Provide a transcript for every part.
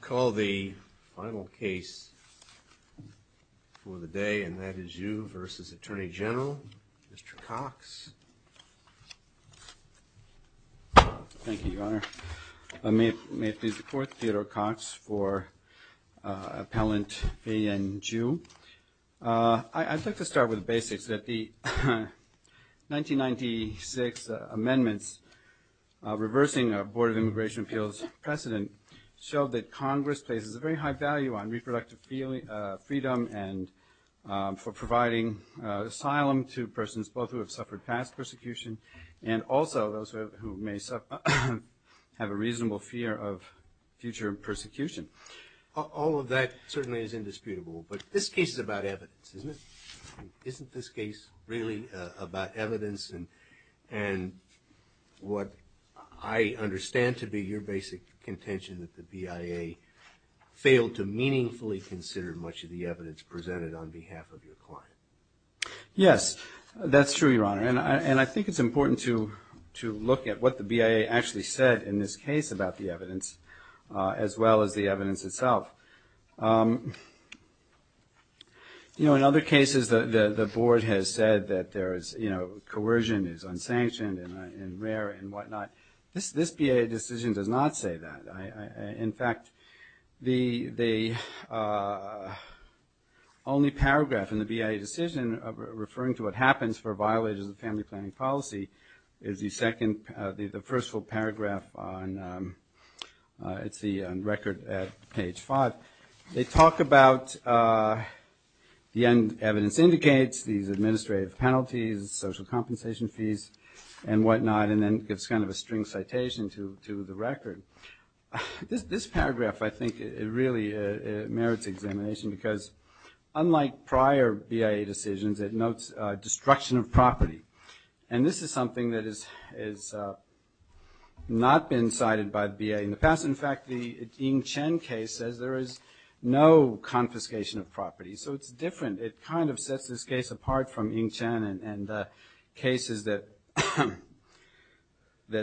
Call the final case for the day, and that is you versus Attorney General, Mr. Cox. Thank you, Your Honor. May it please the Court, Theodore Cox for Appellant V. N. Ju. I'd like to start with the basics, that the 1996 amendments reversing our Board of Immigration Appeals precedent showed that Congress places a very high value on reproductive freedom and for providing asylum to persons both who have suffered past persecution and also those who may have a reasonable fear of future persecution. All of that certainly is indisputable, but this case is about evidence, isn't it? Isn't this case really about evidence and what I understand to be your basic contention that the BIA failed to meaningfully consider much of the evidence presented on behalf of your client? Yes, that's true, Your Honor, and I think it's important to look at what the BIA actually said in this case about the evidence as well as the evidence itself. You know, in other cases the Board has said that there is, you know, coercion is unsanctioned and rare and what not. This BIA decision does not say that. In fact, the only paragraph in the BIA decision referring to what happens for violators of family planning policy is the first full paragraph on, it's the record at page 5. They talk about the evidence indicates, these administrative penalties, social compensation fees and what not and then gives kind of a string citation to the record. This paragraph I think really merits examination because unlike prior BIA decisions, it notes destruction of property and this is something that has not been cited by the BIA in the past. In fact, the Ying Chen case says there is no confiscation of property. So it's different. It kind of sets this case apart from Ying Chen and cases that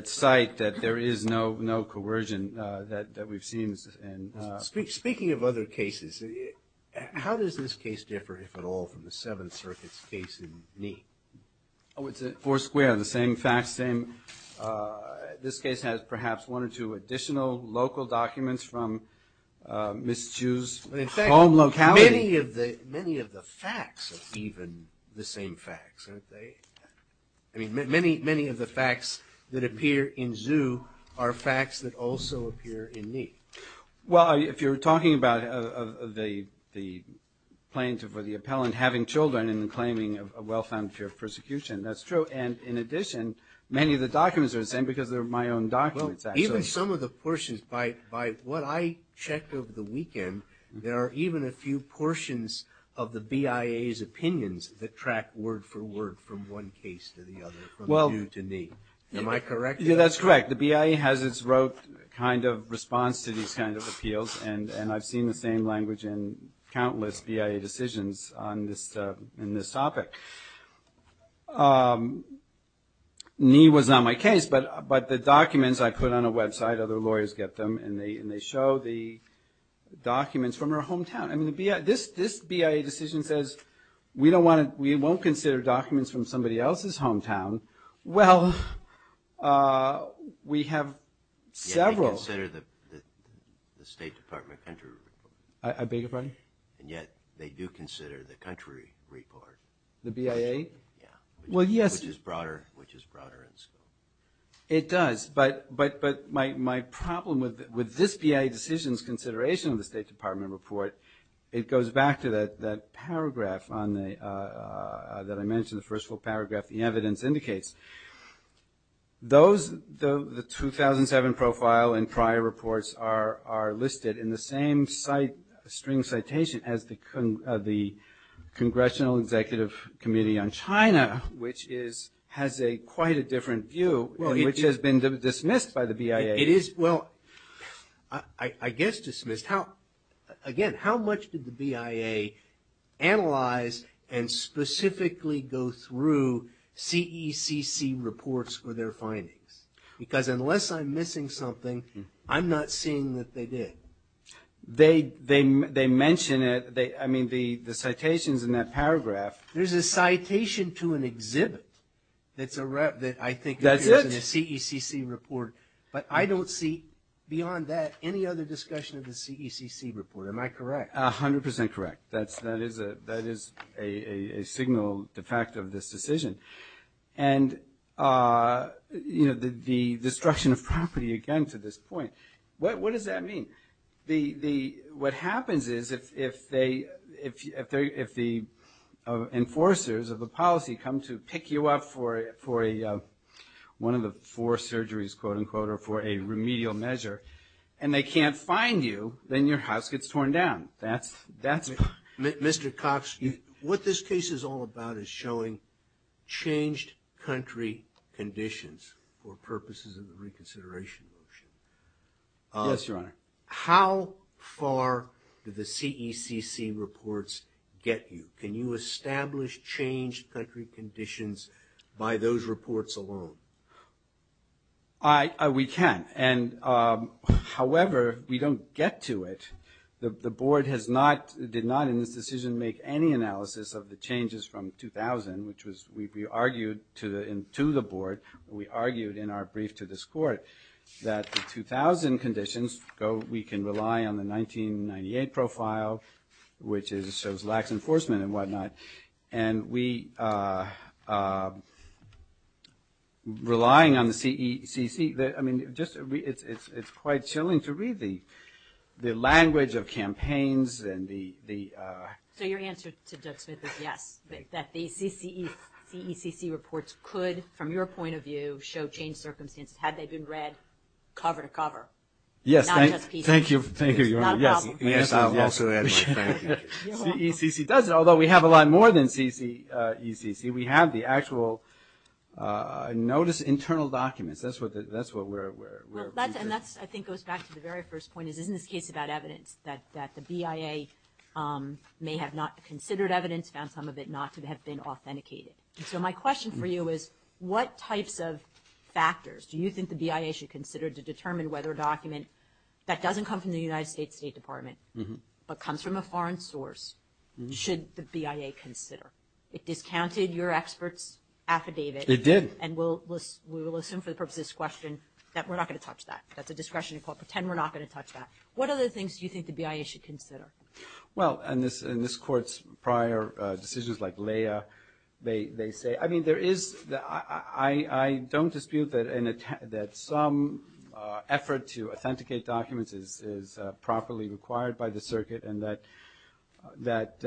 cite that there is no coercion that we've seen. Speaking of other cases, how does this case differ, if at all, from the Seventh Circuit's case in Ni? Oh, it's four square, the same facts, same. This case has perhaps one or two additional local documents from Miss Chu's home locality. In fact, many of the facts are even the same facts, aren't they? I mean, many of the facts that appear in Zhu are facts that also appear in Ni. Well, if you're talking about the plaintiff or the appellant having children and claiming a well-found fear of persecution, that's true. And in addition, many of the documents are the same because they're my own documents, actually. Well, even some of the portions, by what I checked over the weekend, there are even a few portions of the BIA's opinions that track word for word from one case to the other, from Zhu to Ni. Am I correct in that? Yeah, that's correct. The BIA has its own kind of response to these kind of appeals, and I've seen the same language in countless BIA decisions on this topic. Ni was not my case, but the documents I put on a website, other lawyers get them, and they show the documents from her hometown. I mean, this BIA decision says, we won't consider documents from somebody else's hometown. Well, we have several. They consider the State Department country report. I beg your pardon? And yet, they do consider the country report. The BIA? Yeah. Well, yes. Which is broader, which is broader in scope. It does, but my problem with this BIA decision's consideration of the State Department report, it goes back to that paragraph that I mentioned, the first full paragraph, the evidence indicates. The 2007 profile and prior reports are listed in the same string citation as the Congressional Executive Committee on China, which has quite a different view, which has been dismissed by the BIA. It is, well, I guess dismissed. Again, how much did the BIA analyze and specifically go through CECC reports for their findings? Because unless I'm missing something, I'm not seeing that they did. They mention it. I mean, the citations in that paragraph. There's a citation to an exhibit that I think appears in a CECC report, but I don't see beyond that any other discussion of the CECC report. Am I correct? A hundred percent correct. That is a signal de facto of this decision. And, you know, the destruction of property, again, to this point. What does that mean? What happens is if the enforcers of the policy come to pick you up for one of the four surgeries, quote unquote, or for a remedial measure, and they can't find you, then your house gets torn down. That's it. Mr. Cox, what this case is all about is showing changed country conditions for purposes of the reconsideration motion. Yes, Your Honor. How far do the CECC reports get you? Can you establish changed country conditions by those reports alone? We can. However, we don't get to it. The Board has not, did not in this decision, make any analysis of the changes from 2000, which we argued to the Board, we argued in our brief to this Court, that the 2000 conditions go, we can rely on the 1998 profile, which is, shows lax enforcement and whatnot. And we, relying on the CECC, I mean, just, it's quite chilling to read the, the language of campaigns and the... So your answer to Judge Smith is yes, that the CECC reports could, from your point of view, show changed circumstances, had they been read cover to cover. Yes, thank you, thank you, Your Honor. It's not a problem. The answer is yes. CECC does it, although we have a lot more than CECC. We have the actual notice, internal documents. That's what, that's what we're... And that's, I think, goes back to the very first point, is isn't this case about evidence that the BIA may have not considered evidence, found some of it not to have been authenticated. So my question for you is, what types of factors do you think the BIA should consider to determine whether a document that doesn't come from the United States State Department, but comes from a foreign source, should the BIA consider? It discounted your expert's affidavit. It did. And we'll, we will assume for the purpose of this question, that we're not going to touch that. That's a discretion to call, pretend we're not going to touch that. What other things do you think the BIA should consider? Well, and this, in this Court's prior decisions, like Leah, they, they say, I mean, there is, I, I don't dispute that an attempt, that some effort to authenticate documents is, is properly required by the circuit and that, that,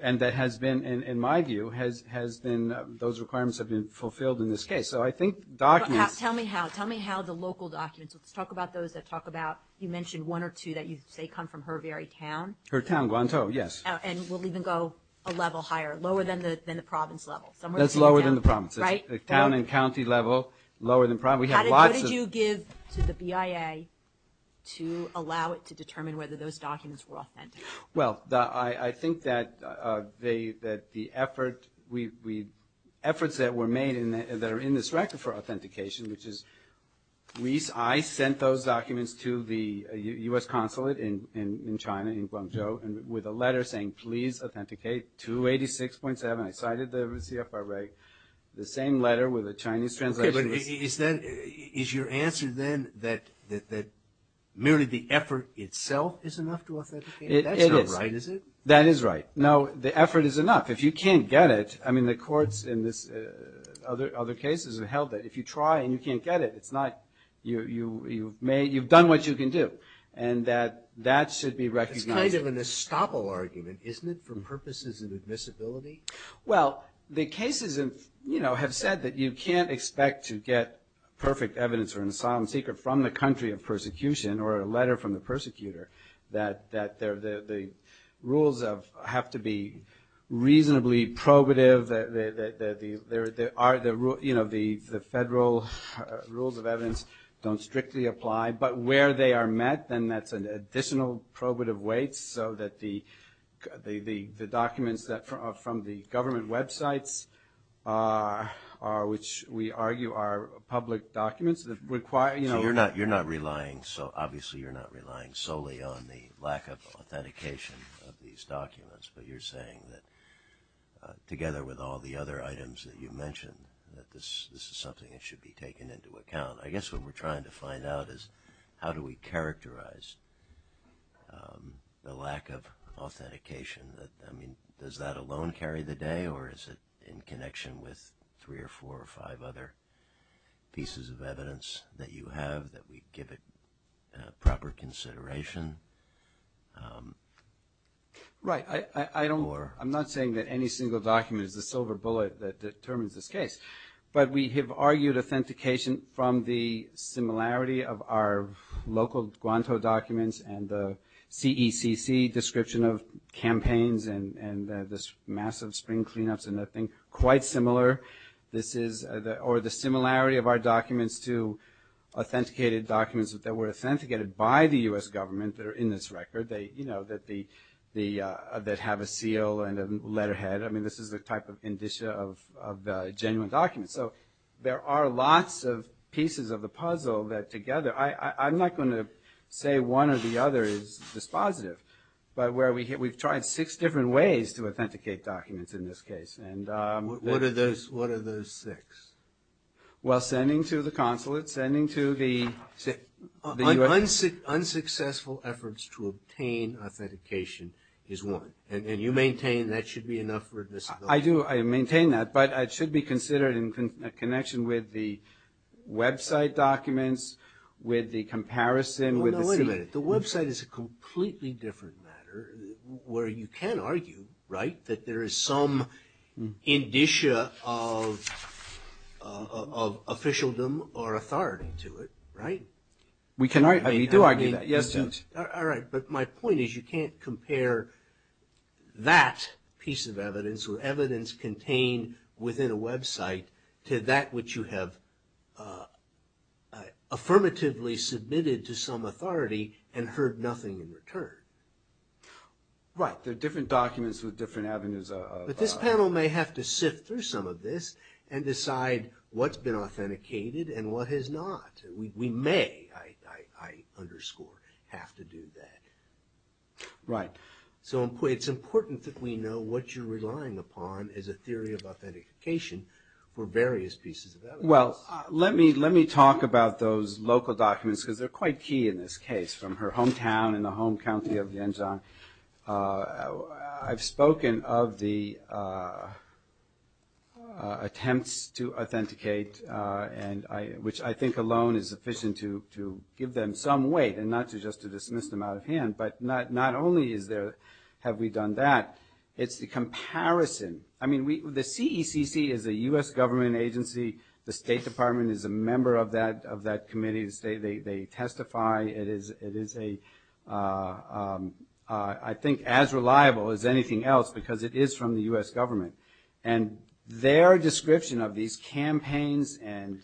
and that has been, in my view, has, has been, those requirements have been fulfilled in this case. So I think documents... Tell me how, tell me how the local documents, let's talk about those that talk about, you mentioned one or two that you say come from her very town. Her town, Guantou, yes. And we'll even go a level higher, lower than the, than the province level. That's lower than the province. Right. The town and county level, lower than, we have lots of... How did you give to the BIA to allow it to determine whether those documents were authentic? Well, I, I think that they, that the effort, we, we, efforts that were made in the, that are in this record for authentication, which is, we, I sent those documents to the U.S. consulate in, in, in China, in Guangzhou, and with a letter saying, please authenticate 286.7, I cited the CFR reg, the same letter with a Chinese translation. Okay, but is that, is your answer then that, that, that merely the effort itself is enough to authenticate? That's not right, is it? That is right. No, the effort is enough. If you can't get it, I mean, the courts in this, other, other cases have held that if you try and you can't get it, it's not, you, you, you've made, you've done what you can do, and that, that should be recognized. It's kind of an estoppel argument, isn't it, for purposes of admissibility? Well, the cases in, you know, have said that you can't expect to get perfect evidence or an asylum seeker from the country of persecution, or a letter from the persecutor, that, that they're, the rules of, have to be reasonably probative, that, that, that the, there, there are the rule, you know, the, the federal rules of evidence don't strictly apply, but where they are met, then that's an additional probative weight, so that the, the, the, the documents that are from the government websites are, which we argue are public documents that require, you know. You're not relying, so obviously, you're not relying solely on the lack of authentication of these documents, but you're saying that, together with all the other items that you mentioned, that this, this is something that should be taken into account. I guess what we're trying to find out is how do we characterize the lack of authentication, that, I mean, does that alone carry the day, or is it in connection with three or four or five other pieces of evidence that you have, that we give it proper consideration, or? Right. I, I, I don't, I'm not saying that any single document is the silver bullet that determines this case, but we have argued authentication from the similarity of our local Guanto documents and the CECC description of campaigns and, and this massive spring cleanups and that thing, quite similar. This is the, or the similarity of our documents to authenticated documents that were authenticated by the U.S. government that are in this record. They, you know, that the, the, that have a seal and a letterhead. I mean, this is the type of indicia of, of the genuine documents. So, there are lots of pieces of the puzzle that together, I, I, I'm not going to say one or the other is dispositive, but where we've tried six different ways to authenticate documents in this case, and. What, what are those, what are those six? Well, sending to the consulate, sending to the, the U.S. Unsuccessful efforts to obtain authentication is one, and you maintain that should be enough for a disability. I do, I maintain that, but it should be considered in connection with the website documents, with the comparison, with the. The website is a completely different matter where you can argue, right, that there is some indicia of, of officialdom or authority to it, right? We can argue, we do argue that, yes. All right, but my point is you can't compare that piece of evidence or evidence contained within a website to that which you have affirmatively submitted to some authority and heard nothing in return. Right, there are different documents with different avenues of. But this panel may have to sift through some of this and decide what's been authenticated and what has not. We, we may, I, I, I underscore, have to do that. Right. So, it's important that we know what you're relying upon as a theory of authentication for various pieces of evidence. Well, let me, let me talk about those local documents because they're quite key in this case, from her hometown in the home county of Lianzhang. I've spoken of the attempts to authenticate and I, which I think alone is sufficient to, to give them some weight and not to just to dismiss them out of hand. But not, not only is there, have we done that, it's the comparison. I mean, we, the CECC is a U.S. government agency. The State Department is a member of that, of that committee. The State, they, they testify. It is, it is a, I think as reliable as anything else because it is from the U.S. government. And their description of these campaigns and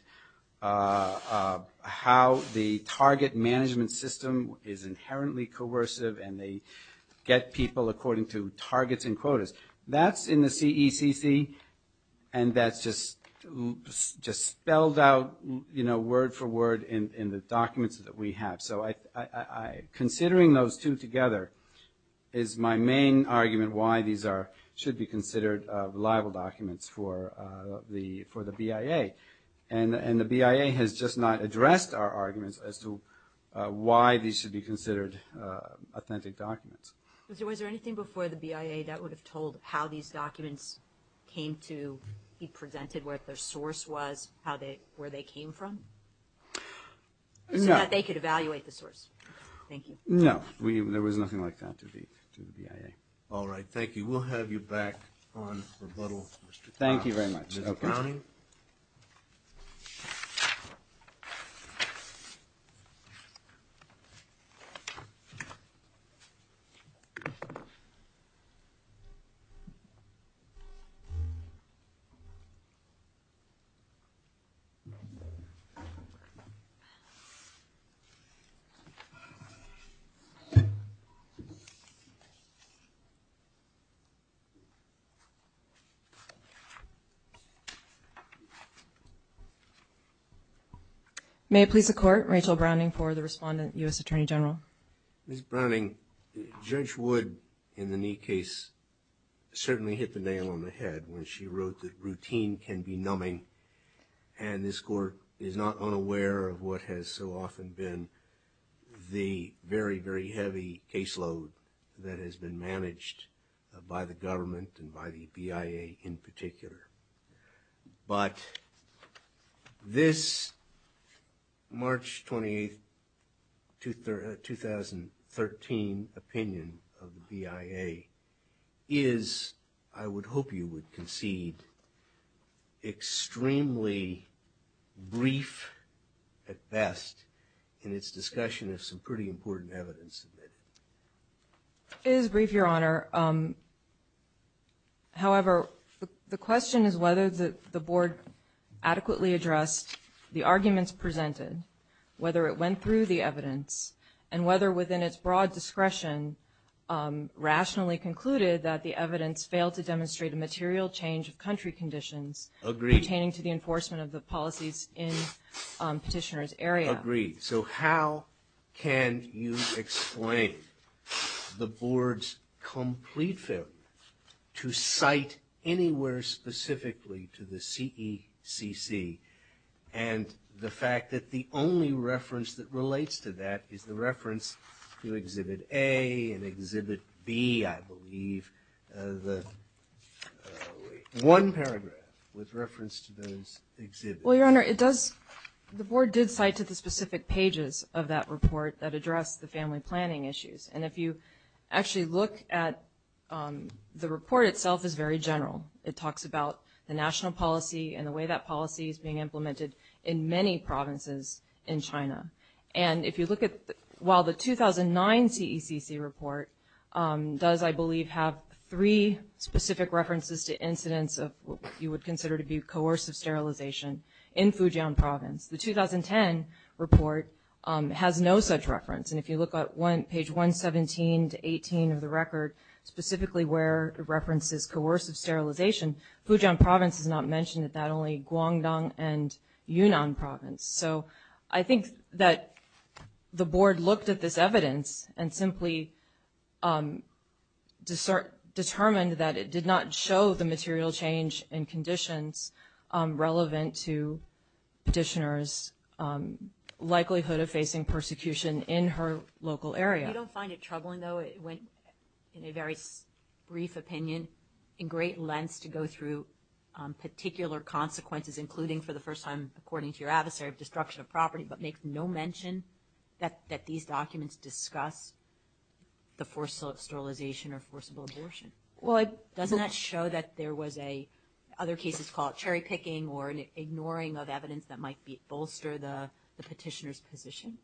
how the target management system is inherently coercive and they get people according to targets and quotas. That's in the CECC and that's just, just spelled out, you know, word for word in, in the documents that we have. So, I, I, considering those two together is my main argument why these are, should be considered reliable documents for the, for the BIA. And, and the BIA has just not addressed our arguments as to why these should be considered authentic documents. Was there, was there anything before the BIA that would have told how these documents came to be presented? Where their source was? How they, where they came from? So that they could evaluate the source. Thank you. No. We, there was nothing like that to the, to the BIA. All right. Thank you. We'll have you back on rebuttal, Mr. Kahn. Thank you very much. Thank you. May it please the court. Rachel Browning for the respondent, U.S. Attorney General. Ms. Browning, Judge Wood, in the Neate case, certainly hit the nail on the head when she wrote that routine can be numbing. And this court is not unaware of what has so often been the very, very heavy caseload that has been managed by the government and by the BIA in particular. But this March 28th, 2013 opinion of the BIA is, I would hope you would concede, extremely brief at best in its discussion of some pretty important evidence of it. It is brief, Your Honor. However, the question is whether the board adequately addressed the arguments presented, whether it went through the evidence, and whether within its broad discretion, rationally concluded that the evidence failed to demonstrate a material change of country conditions pertaining to the enforcement of the policies in petitioner's area. Agreed. So how can you explain the board's complete failure to cite anywhere specifically to the CECC and the fact that the only reference that relates to that is the reference to Exhibit A and Exhibit B, I believe. One paragraph with reference to those exhibits. Your Honor, the board did cite to the specific pages of that report that address the family planning issues. And if you actually look at the report itself, it's very general. It talks about the national policy and the way that policy is being implemented in many provinces in China. And if you look at while the 2009 CECC report does, I believe, have three specific references to incidents of what you would consider to be coercive sterilization in Fujian province. The 2010 report has no such reference. And if you look at page 117 to 18 of the record, specifically where it references coercive sterilization, Fujian province is not mentioned, not only Guangdong and Yunnan province. So I think that the board looked at this evidence and simply determined that it did not show the material change in conditions relevant to petitioner's likelihood of facing persecution in her local area. You don't find it troubling, though, in a very brief opinion, in great lengths to go through particular consequences, including for the first time, according to your adversary, of destruction of property, but make no mention that these documents discuss the forced sterilization or forcible abortion. Well, doesn't that show that there was other cases called cherry-picking or an ignoring of evidence that might bolster the petitioner's position?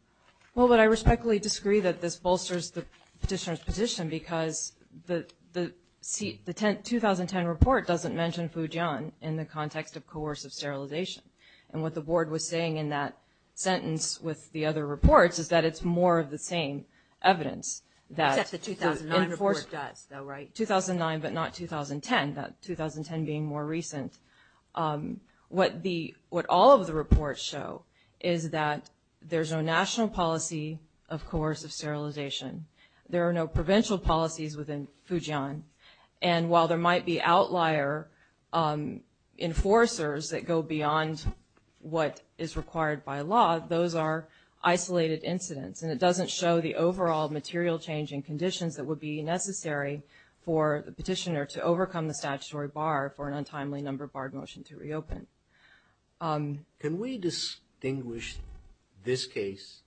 Well, but I respectfully disagree that this bolsters the petitioner's position because the 2010 report doesn't mention Fujian in the context of coercive sterilization. And what the board was saying in that sentence with the other reports is that it's more of the same evidence. Except the 2009 report does, though, right? 2009, but not 2010, that 2010 being more recent. What all of the reports show is that there's no national policy of coercive sterilization. There are no provincial policies within Fujian. And while there might be outlier enforcers that go beyond what is required by law, those are isolated incidents. And it doesn't show the overall material change in conditions that would be necessary for the petitioner to overcome the statutory bar for an untimely numbered barred motion to reopen. Can we distinguish this case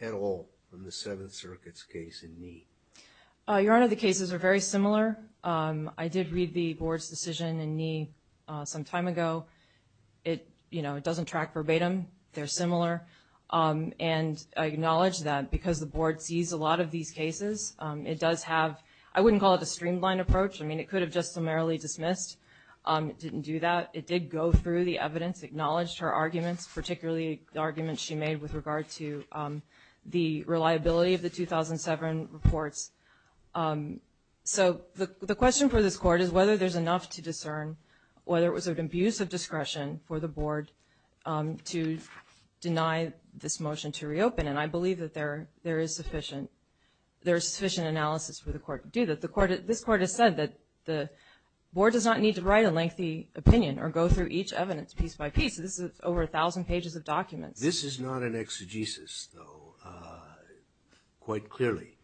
at all from the Seventh Circuit's case in Ni? Your Honor, the cases are very similar. I did read the board's decision in Ni some time ago. It doesn't track verbatim. They're similar. And I acknowledge that because the board sees a lot of these cases. It does have, I wouldn't call it a streamlined approach. I mean, it could have just summarily dismissed. It didn't do that. It did go through the evidence, acknowledged her arguments, particularly the arguments she made with regard to the reliability of the 2007 reports. So the question for this court is whether there's enough to discern whether it was an abuse of discretion for the board to deny this motion to reopen. And I believe that there is sufficient analysis for the court to do that. This court has said that the board does not need to write a lengthy opinion or go through each evidence piece by piece. This is over 1,000 pages of documents. This is not an exegesis, though, quite clearly.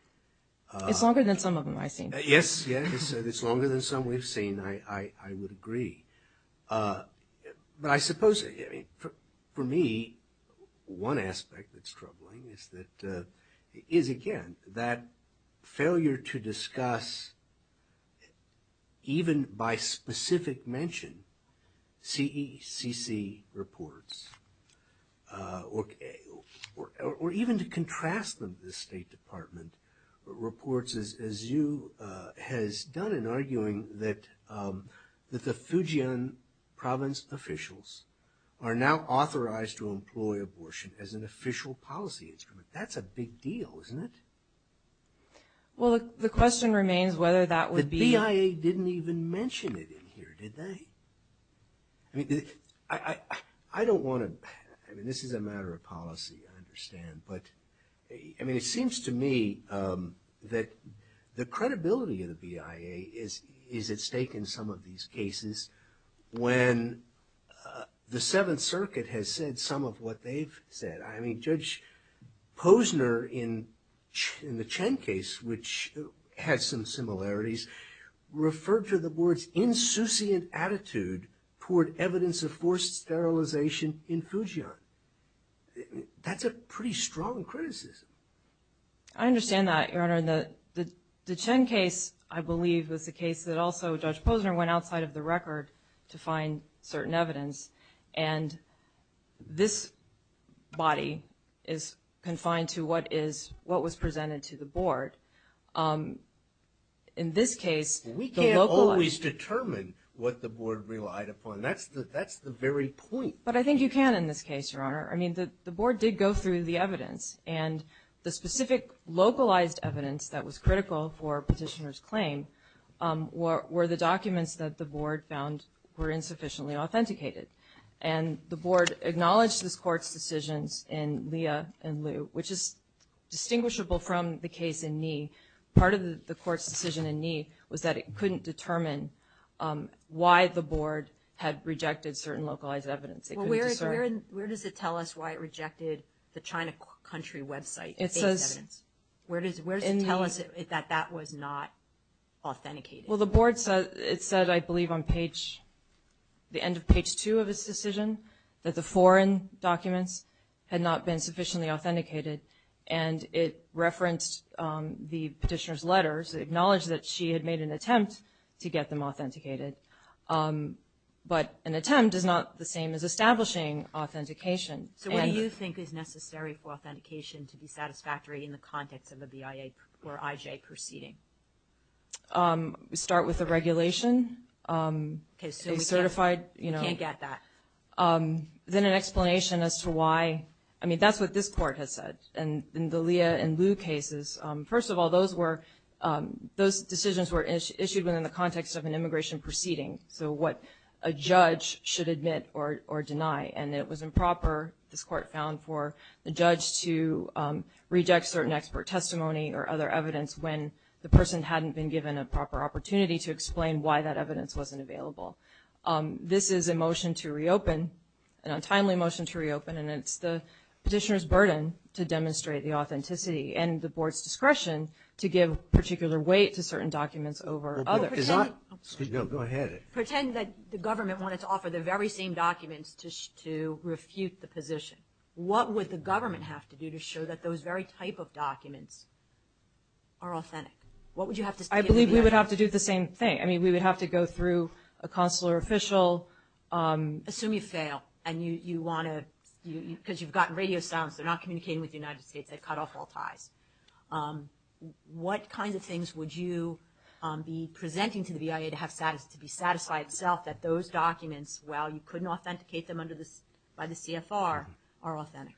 It's longer than some of them I've seen. Yes, yes. It's longer than some we've seen, I would agree. But I suppose, I mean, for me, one aspect that's troubling is that – is, again, that failure to discuss, even by specific mention, CECC reports or even to contrast them to the State Department, reports, as you – has done in arguing that the Fujian province officials are now authorized to employ abortion as an official policy instrument. That's a big deal, isn't it? MS. BENTON. Well, the question remains whether that would be – MR. BENTON. The BIA didn't even mention it in here, did they? I mean, I don't want to – I mean, this is a matter of policy, I understand. But, I mean, it seems to me that the credibility of the BIA is at stake in some of these cases when the Seventh Circuit has said some of what they've said. I mean, Judge Posner in the Chen case, which had some similarities, referred to the board's insouciant attitude toward evidence of forced sterilization in Fujian. I mean, that's a pretty strong criticism. BENTON. I understand that, Your Honor. And the Chen case, I believe, was a case that also Judge Posner went outside of the record to find certain evidence. And this body is confined to what is – what was presented to the board. In this case, the localized – MR. BENTON. We can't always determine what the board relied upon. That's the very point. MS. I mean, the board did go through the evidence. And the specific localized evidence that was critical for Petitioner's claim were the documents that the board found were insufficiently authenticated. And the board acknowledged this court's decisions in Lia and Liu, which is distinguishable from the case in Ni. Part of the court's decision in Ni was that it couldn't determine why the board had rejected certain localized evidence. It couldn't discern – MS. Where does it tell us why it rejected the China country website – MS. It says – MS. – evidence? Where does it tell us that that was not authenticated? MS. Well, the board said – it said, I believe, on page – the end of page 2 of its decision that the foreign documents had not been sufficiently authenticated. And it referenced the Petitioner's letters, acknowledged that she had made an attempt to get them authenticated. But an attempt is not the same as establishing authentication. MS. So what do you think is necessary for authentication to be satisfactory in the context of a BIA or IJ proceeding? MS. We start with the regulation. MS. Okay, so we can't – MS. Certified – MS. We can't get that. MS. Then an explanation as to why – I mean, that's what this court has said. And in the Lia and Liu cases, first of all, those were – those decisions were issued within the context of an immigration proceeding, so what a judge should admit or deny. And it was improper, this court found, for the judge to reject certain expert testimony or other evidence when the person hadn't been given a proper opportunity to explain why that evidence wasn't available. This is a motion to reopen, an untimely motion to reopen, and it's the Petitioner's burden to demonstrate the authenticity and the board's discretion to give particular weight to certain documents over – Pretend – Is that – excuse me. No, go ahead. Pretend that the government wanted to offer the very same documents to refute the position. What would the government have to do to show that those very type of documents are authentic? What would you have to – I believe we would have to do the same thing. I mean, we would have to go through a consular official. Assume you fail and you want to – because you've gotten radio silence. They're not communicating with the United States. They've cut off all ties. What kinds of things would you be presenting to the BIA to have – to be satisfied itself that those documents, while you couldn't authenticate them under the – by the CFR, are authentic?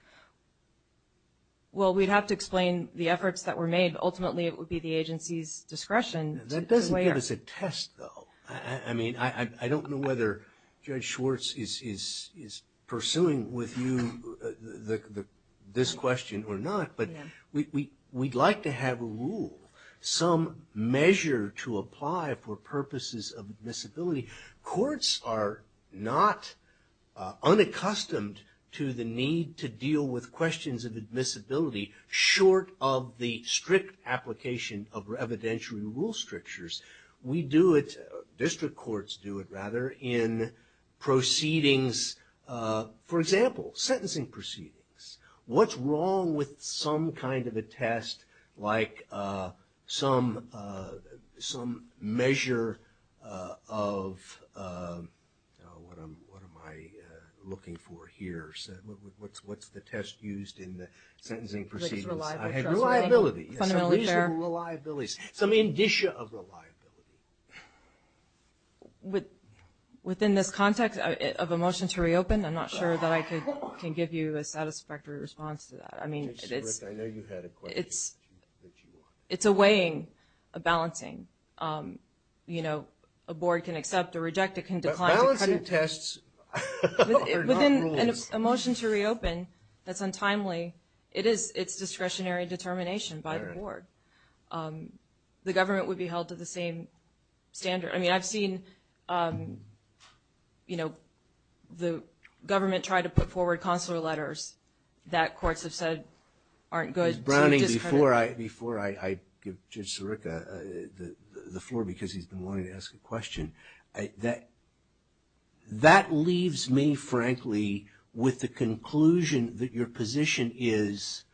Well, we'd have to explain the efforts that were made. Ultimately, it would be the agency's discretion to weigh our – That doesn't give us a test, though. I mean, I don't know whether Judge Schwartz is pursuing with you this question or not, but we'd like to have a rule, some measure to apply for purposes of admissibility. Courts are not unaccustomed to the need to deal with questions of admissibility short of the strict application of evidentiary rule strictures. We do it – district courts do it, rather, in proceedings – for example, sentencing proceedings. What's wrong with some kind of a test like some measure of – what am I looking for here? What's the test used in the sentencing proceedings? Reliability. Fundamentally fair. Reliabilities. Some indicia of reliability. Within this context of a motion to reopen, I'm not sure that I can give you a satisfactory response to that. Judge Schwartz, I know you had a question. It's a weighing, a balancing. You know, a board can accept or reject. It can decline to cut it. But balancing tests are not rules. Within a motion to reopen, that's untimely. It is discretionary determination by the board. The government would be held to the same standard. I mean, I've seen, you know, the government try to put forward consular letters that courts have said aren't good. Ms. Browning, before I give Judge Sirica the floor because he's been wanting to ask a question, that leaves me, frankly, with the conclusion that your position is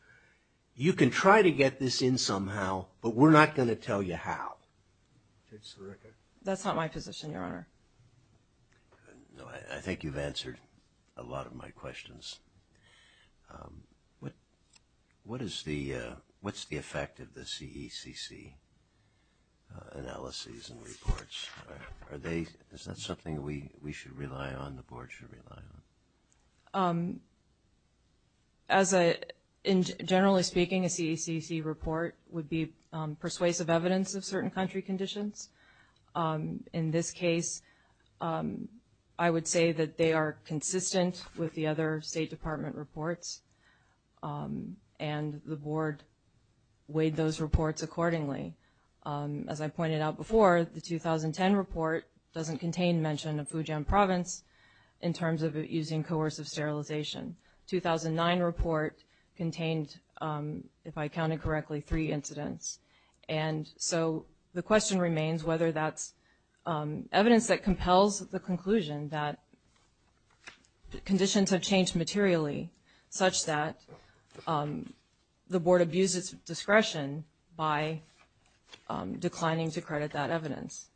you can try to get this in somehow, but we're not going to tell you how. Judge Sirica. That's not my position, Your Honor. No, I think you've answered a lot of my questions. What is the, what's the effect of the CECC analyses and reports? Are they, is that something we should rely on, the board should rely on? As a, generally speaking, a CECC report would be persuasive evidence of certain country conditions. In this case, I would say that they are consistent with the other State Department reports, and the board weighed those reports accordingly. As I pointed out before, the 2010 report doesn't contain mention of Fujian Province in terms of using coercive sterilization. 2009 report contained, if I counted correctly, three incidents, and so the question remains whether that's evidence that compels the conclusion that conditions have changed materially such that the board abused its discretion by declining to credit that evidence,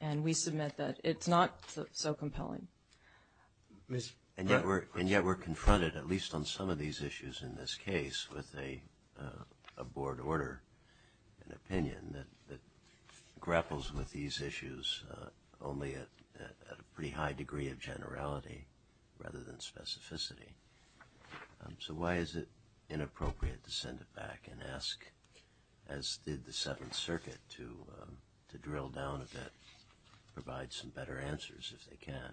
and we submit that it's not so compelling. And yet we're confronted, at least on some of these issues in this case, with a board order, an opinion that grapples with these issues only at a pretty high degree of generality rather than specificity. So why is it inappropriate to send it back and ask, as did the Seventh Circuit, to drill down a bit, provide some better answers if they can?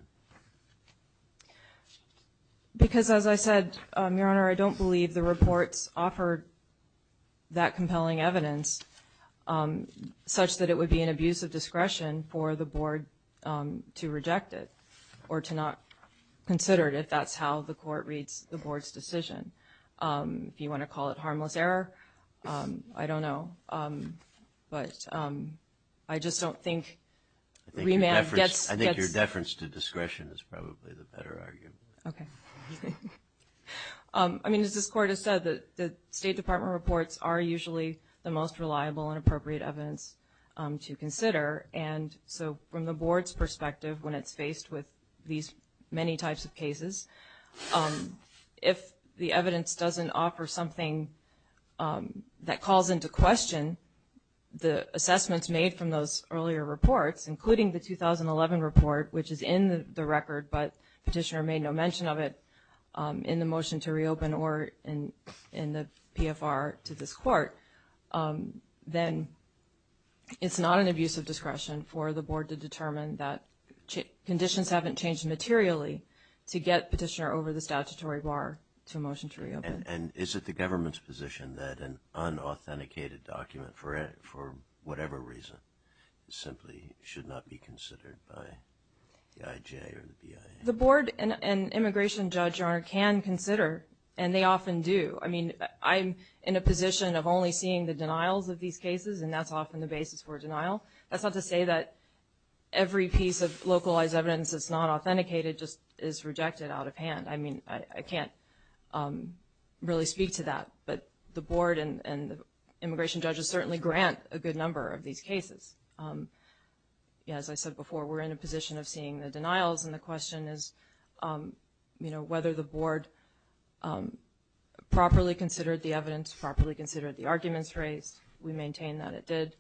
Because, as I said, Your Honor, I don't believe the reports offered that compelling evidence such that it would be an abuse of discretion for the board to reject it or to not consider it if that's how the court reads the board's decision. If you want to call it harmless error, I don't know. But I just don't think remand gets- I think your deference to discretion is probably the better argument. Okay. I mean, as this Court has said, the State Department reports are usually the most reliable and appropriate evidence to consider. And so from the board's perspective, when it's faced with these many types of cases, if the evidence doesn't offer something that calls into question the assessments made from those earlier reports, including the 2011 report, which is in the record but Petitioner made no mention of it in the motion to reopen or in the PFR to this Court, then it's not an abuse of discretion for the board to determine that conditions haven't changed materially to get Petitioner over the statutory bar to a motion to reopen. And is it the government's position that an unauthenticated document, for whatever reason, simply should not be considered by the IJ or the BIA? The board and immigration judge, Your Honor, can consider, and they often do. I mean, I'm in a position of only seeing the denials of these cases, and that's often the basis for denial. That's not to say that every piece of localized evidence that's not authenticated just is rejected out of hand. I mean, I can't really speak to that. But the board and immigration judges certainly grant a good number of these cases. As I said before, we're in a position of seeing the denials, and the question is whether the board properly considered the evidence, properly considered the arguments raised. We maintain that it did.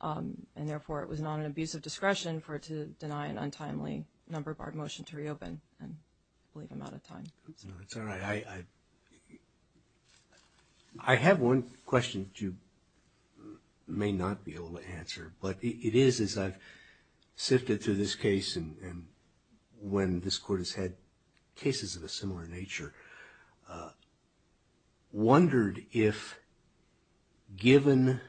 And therefore, it was not an abuse of discretion for it to deny an untimely number of our motion to reopen and leave him out of time. No, it's all right. I have one question that you may not be able to answer. But it is as I've sifted through this case and when this court has had cases of a similar nature, wondered if given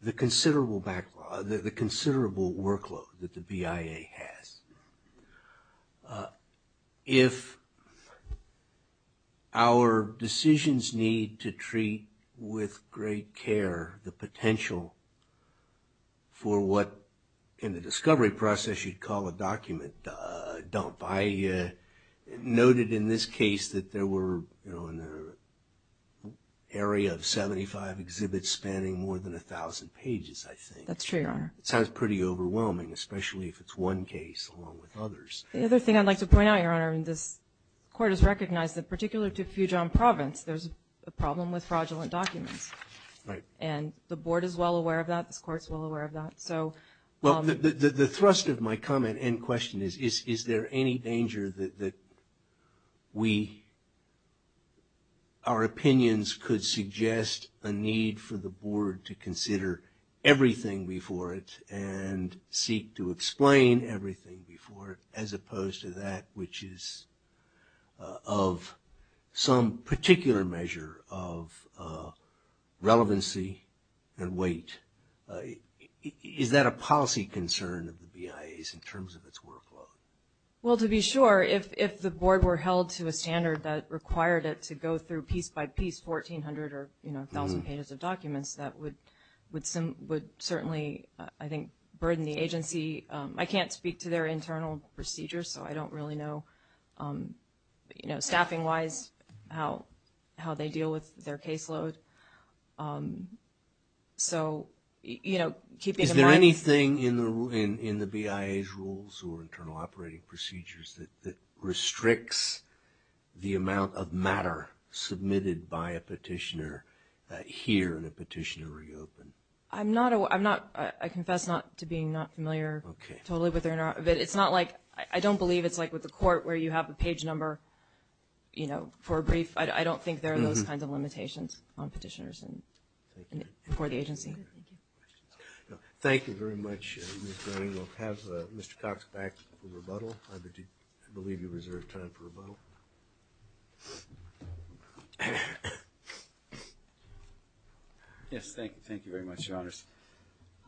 the considerable workload that the BIA has, if our decisions need to treat with great care the potential for what, in the discovery process, you'd call a document dump. I noted in this case that there were, you know, an area of 75 exhibits spanning more than 1,000 pages, I think. That's true, Your Honor. It sounds pretty overwhelming, especially if it's one case along with others. The other thing I'd like to point out, Your Honor, and this court has recognized that particular to Fujian province, there's a problem with fraudulent documents. Right. And the board is well aware of that. This court's well aware of that. Well, the thrust of my comment and question is, is there any danger that we, our opinions could suggest a need for the board to consider everything before it and seek to explain everything before it, as opposed to that which is of some particular measure of relevancy and weight? Is that a policy concern of the BIA's in terms of its workload? Well, to be sure, if the board were held to a standard that required it to go through piece by piece 1,400 or 1,000 pages of documents, that would certainly, I think, burden the agency. I can't speak to their internal procedures, so I don't really know, you know, staffing wise, how they deal with their caseload. Is there anything in the BIA's rules or internal operating procedures that restricts the amount of matter submitted by a petitioner here and a petitioner reopened? I'm not, I confess not to being not familiar totally with their, but it's not like, I don't believe it's like with the court where you have the page number, you know, for a brief. I don't think there are those kinds of limitations on pages. Thank you very much. We'll have Mr. Cox back for rebuttal. I believe you reserved time for rebuttal. Yes, thank you. Thank you very much, Your Honors.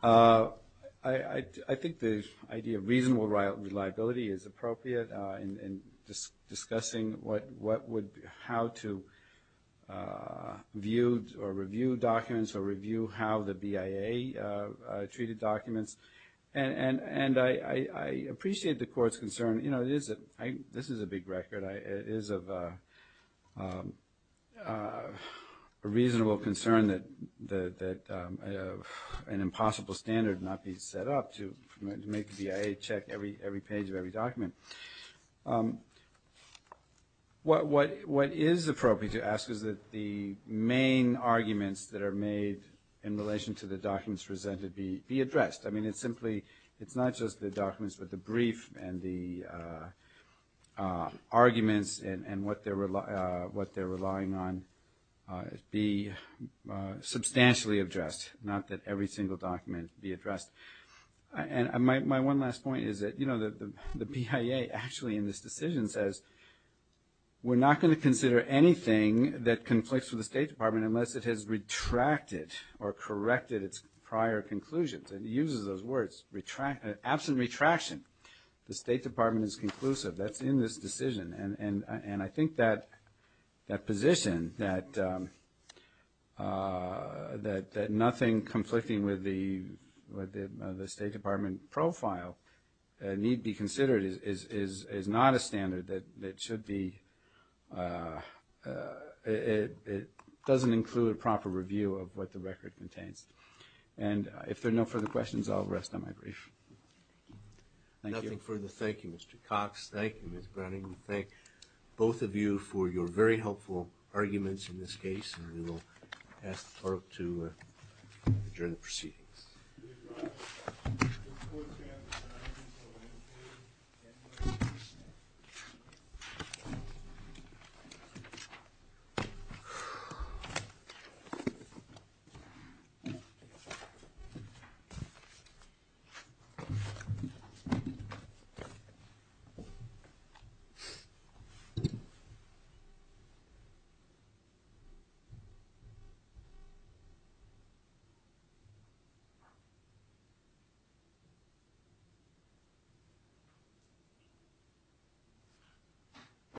I think the idea of reasonable reliability is appropriate in discussing what would, how to view or review documents or review how the BIA treated documents, and I appreciate the court's concern. You know, this is a big record. It is of a reasonable concern that an impossible standard not be set up to make the BIA check every page of every document. What is appropriate to ask is that the main arguments that are made in relation to the documents presented be addressed. I mean, it's simply, it's not just the documents, but the brief and the arguments and what they're relying on be substantially addressed, not that every single document be addressed. And my one last point is that, you know, the BIA actually in this decision says, we're not going to consider anything that conflicts with the State Department unless it has retracted or corrected its prior conclusions. It uses those words. Absent retraction, the State Department is conclusive. That's in this decision. And I think that position, that nothing conflicting with the State Department profile need be considered is not a standard that should be, it doesn't include a proper review of what the record contains. And if there are no further questions, I'll rest on my brief. Thank you. MR. BRENNAN. Nothing further. Thank you, Mr. Cox. Thank you, Ms. Brennan. We thank both of you for your very helpful arguments in this case, and we will ask the clerk to adjourn the proceedings.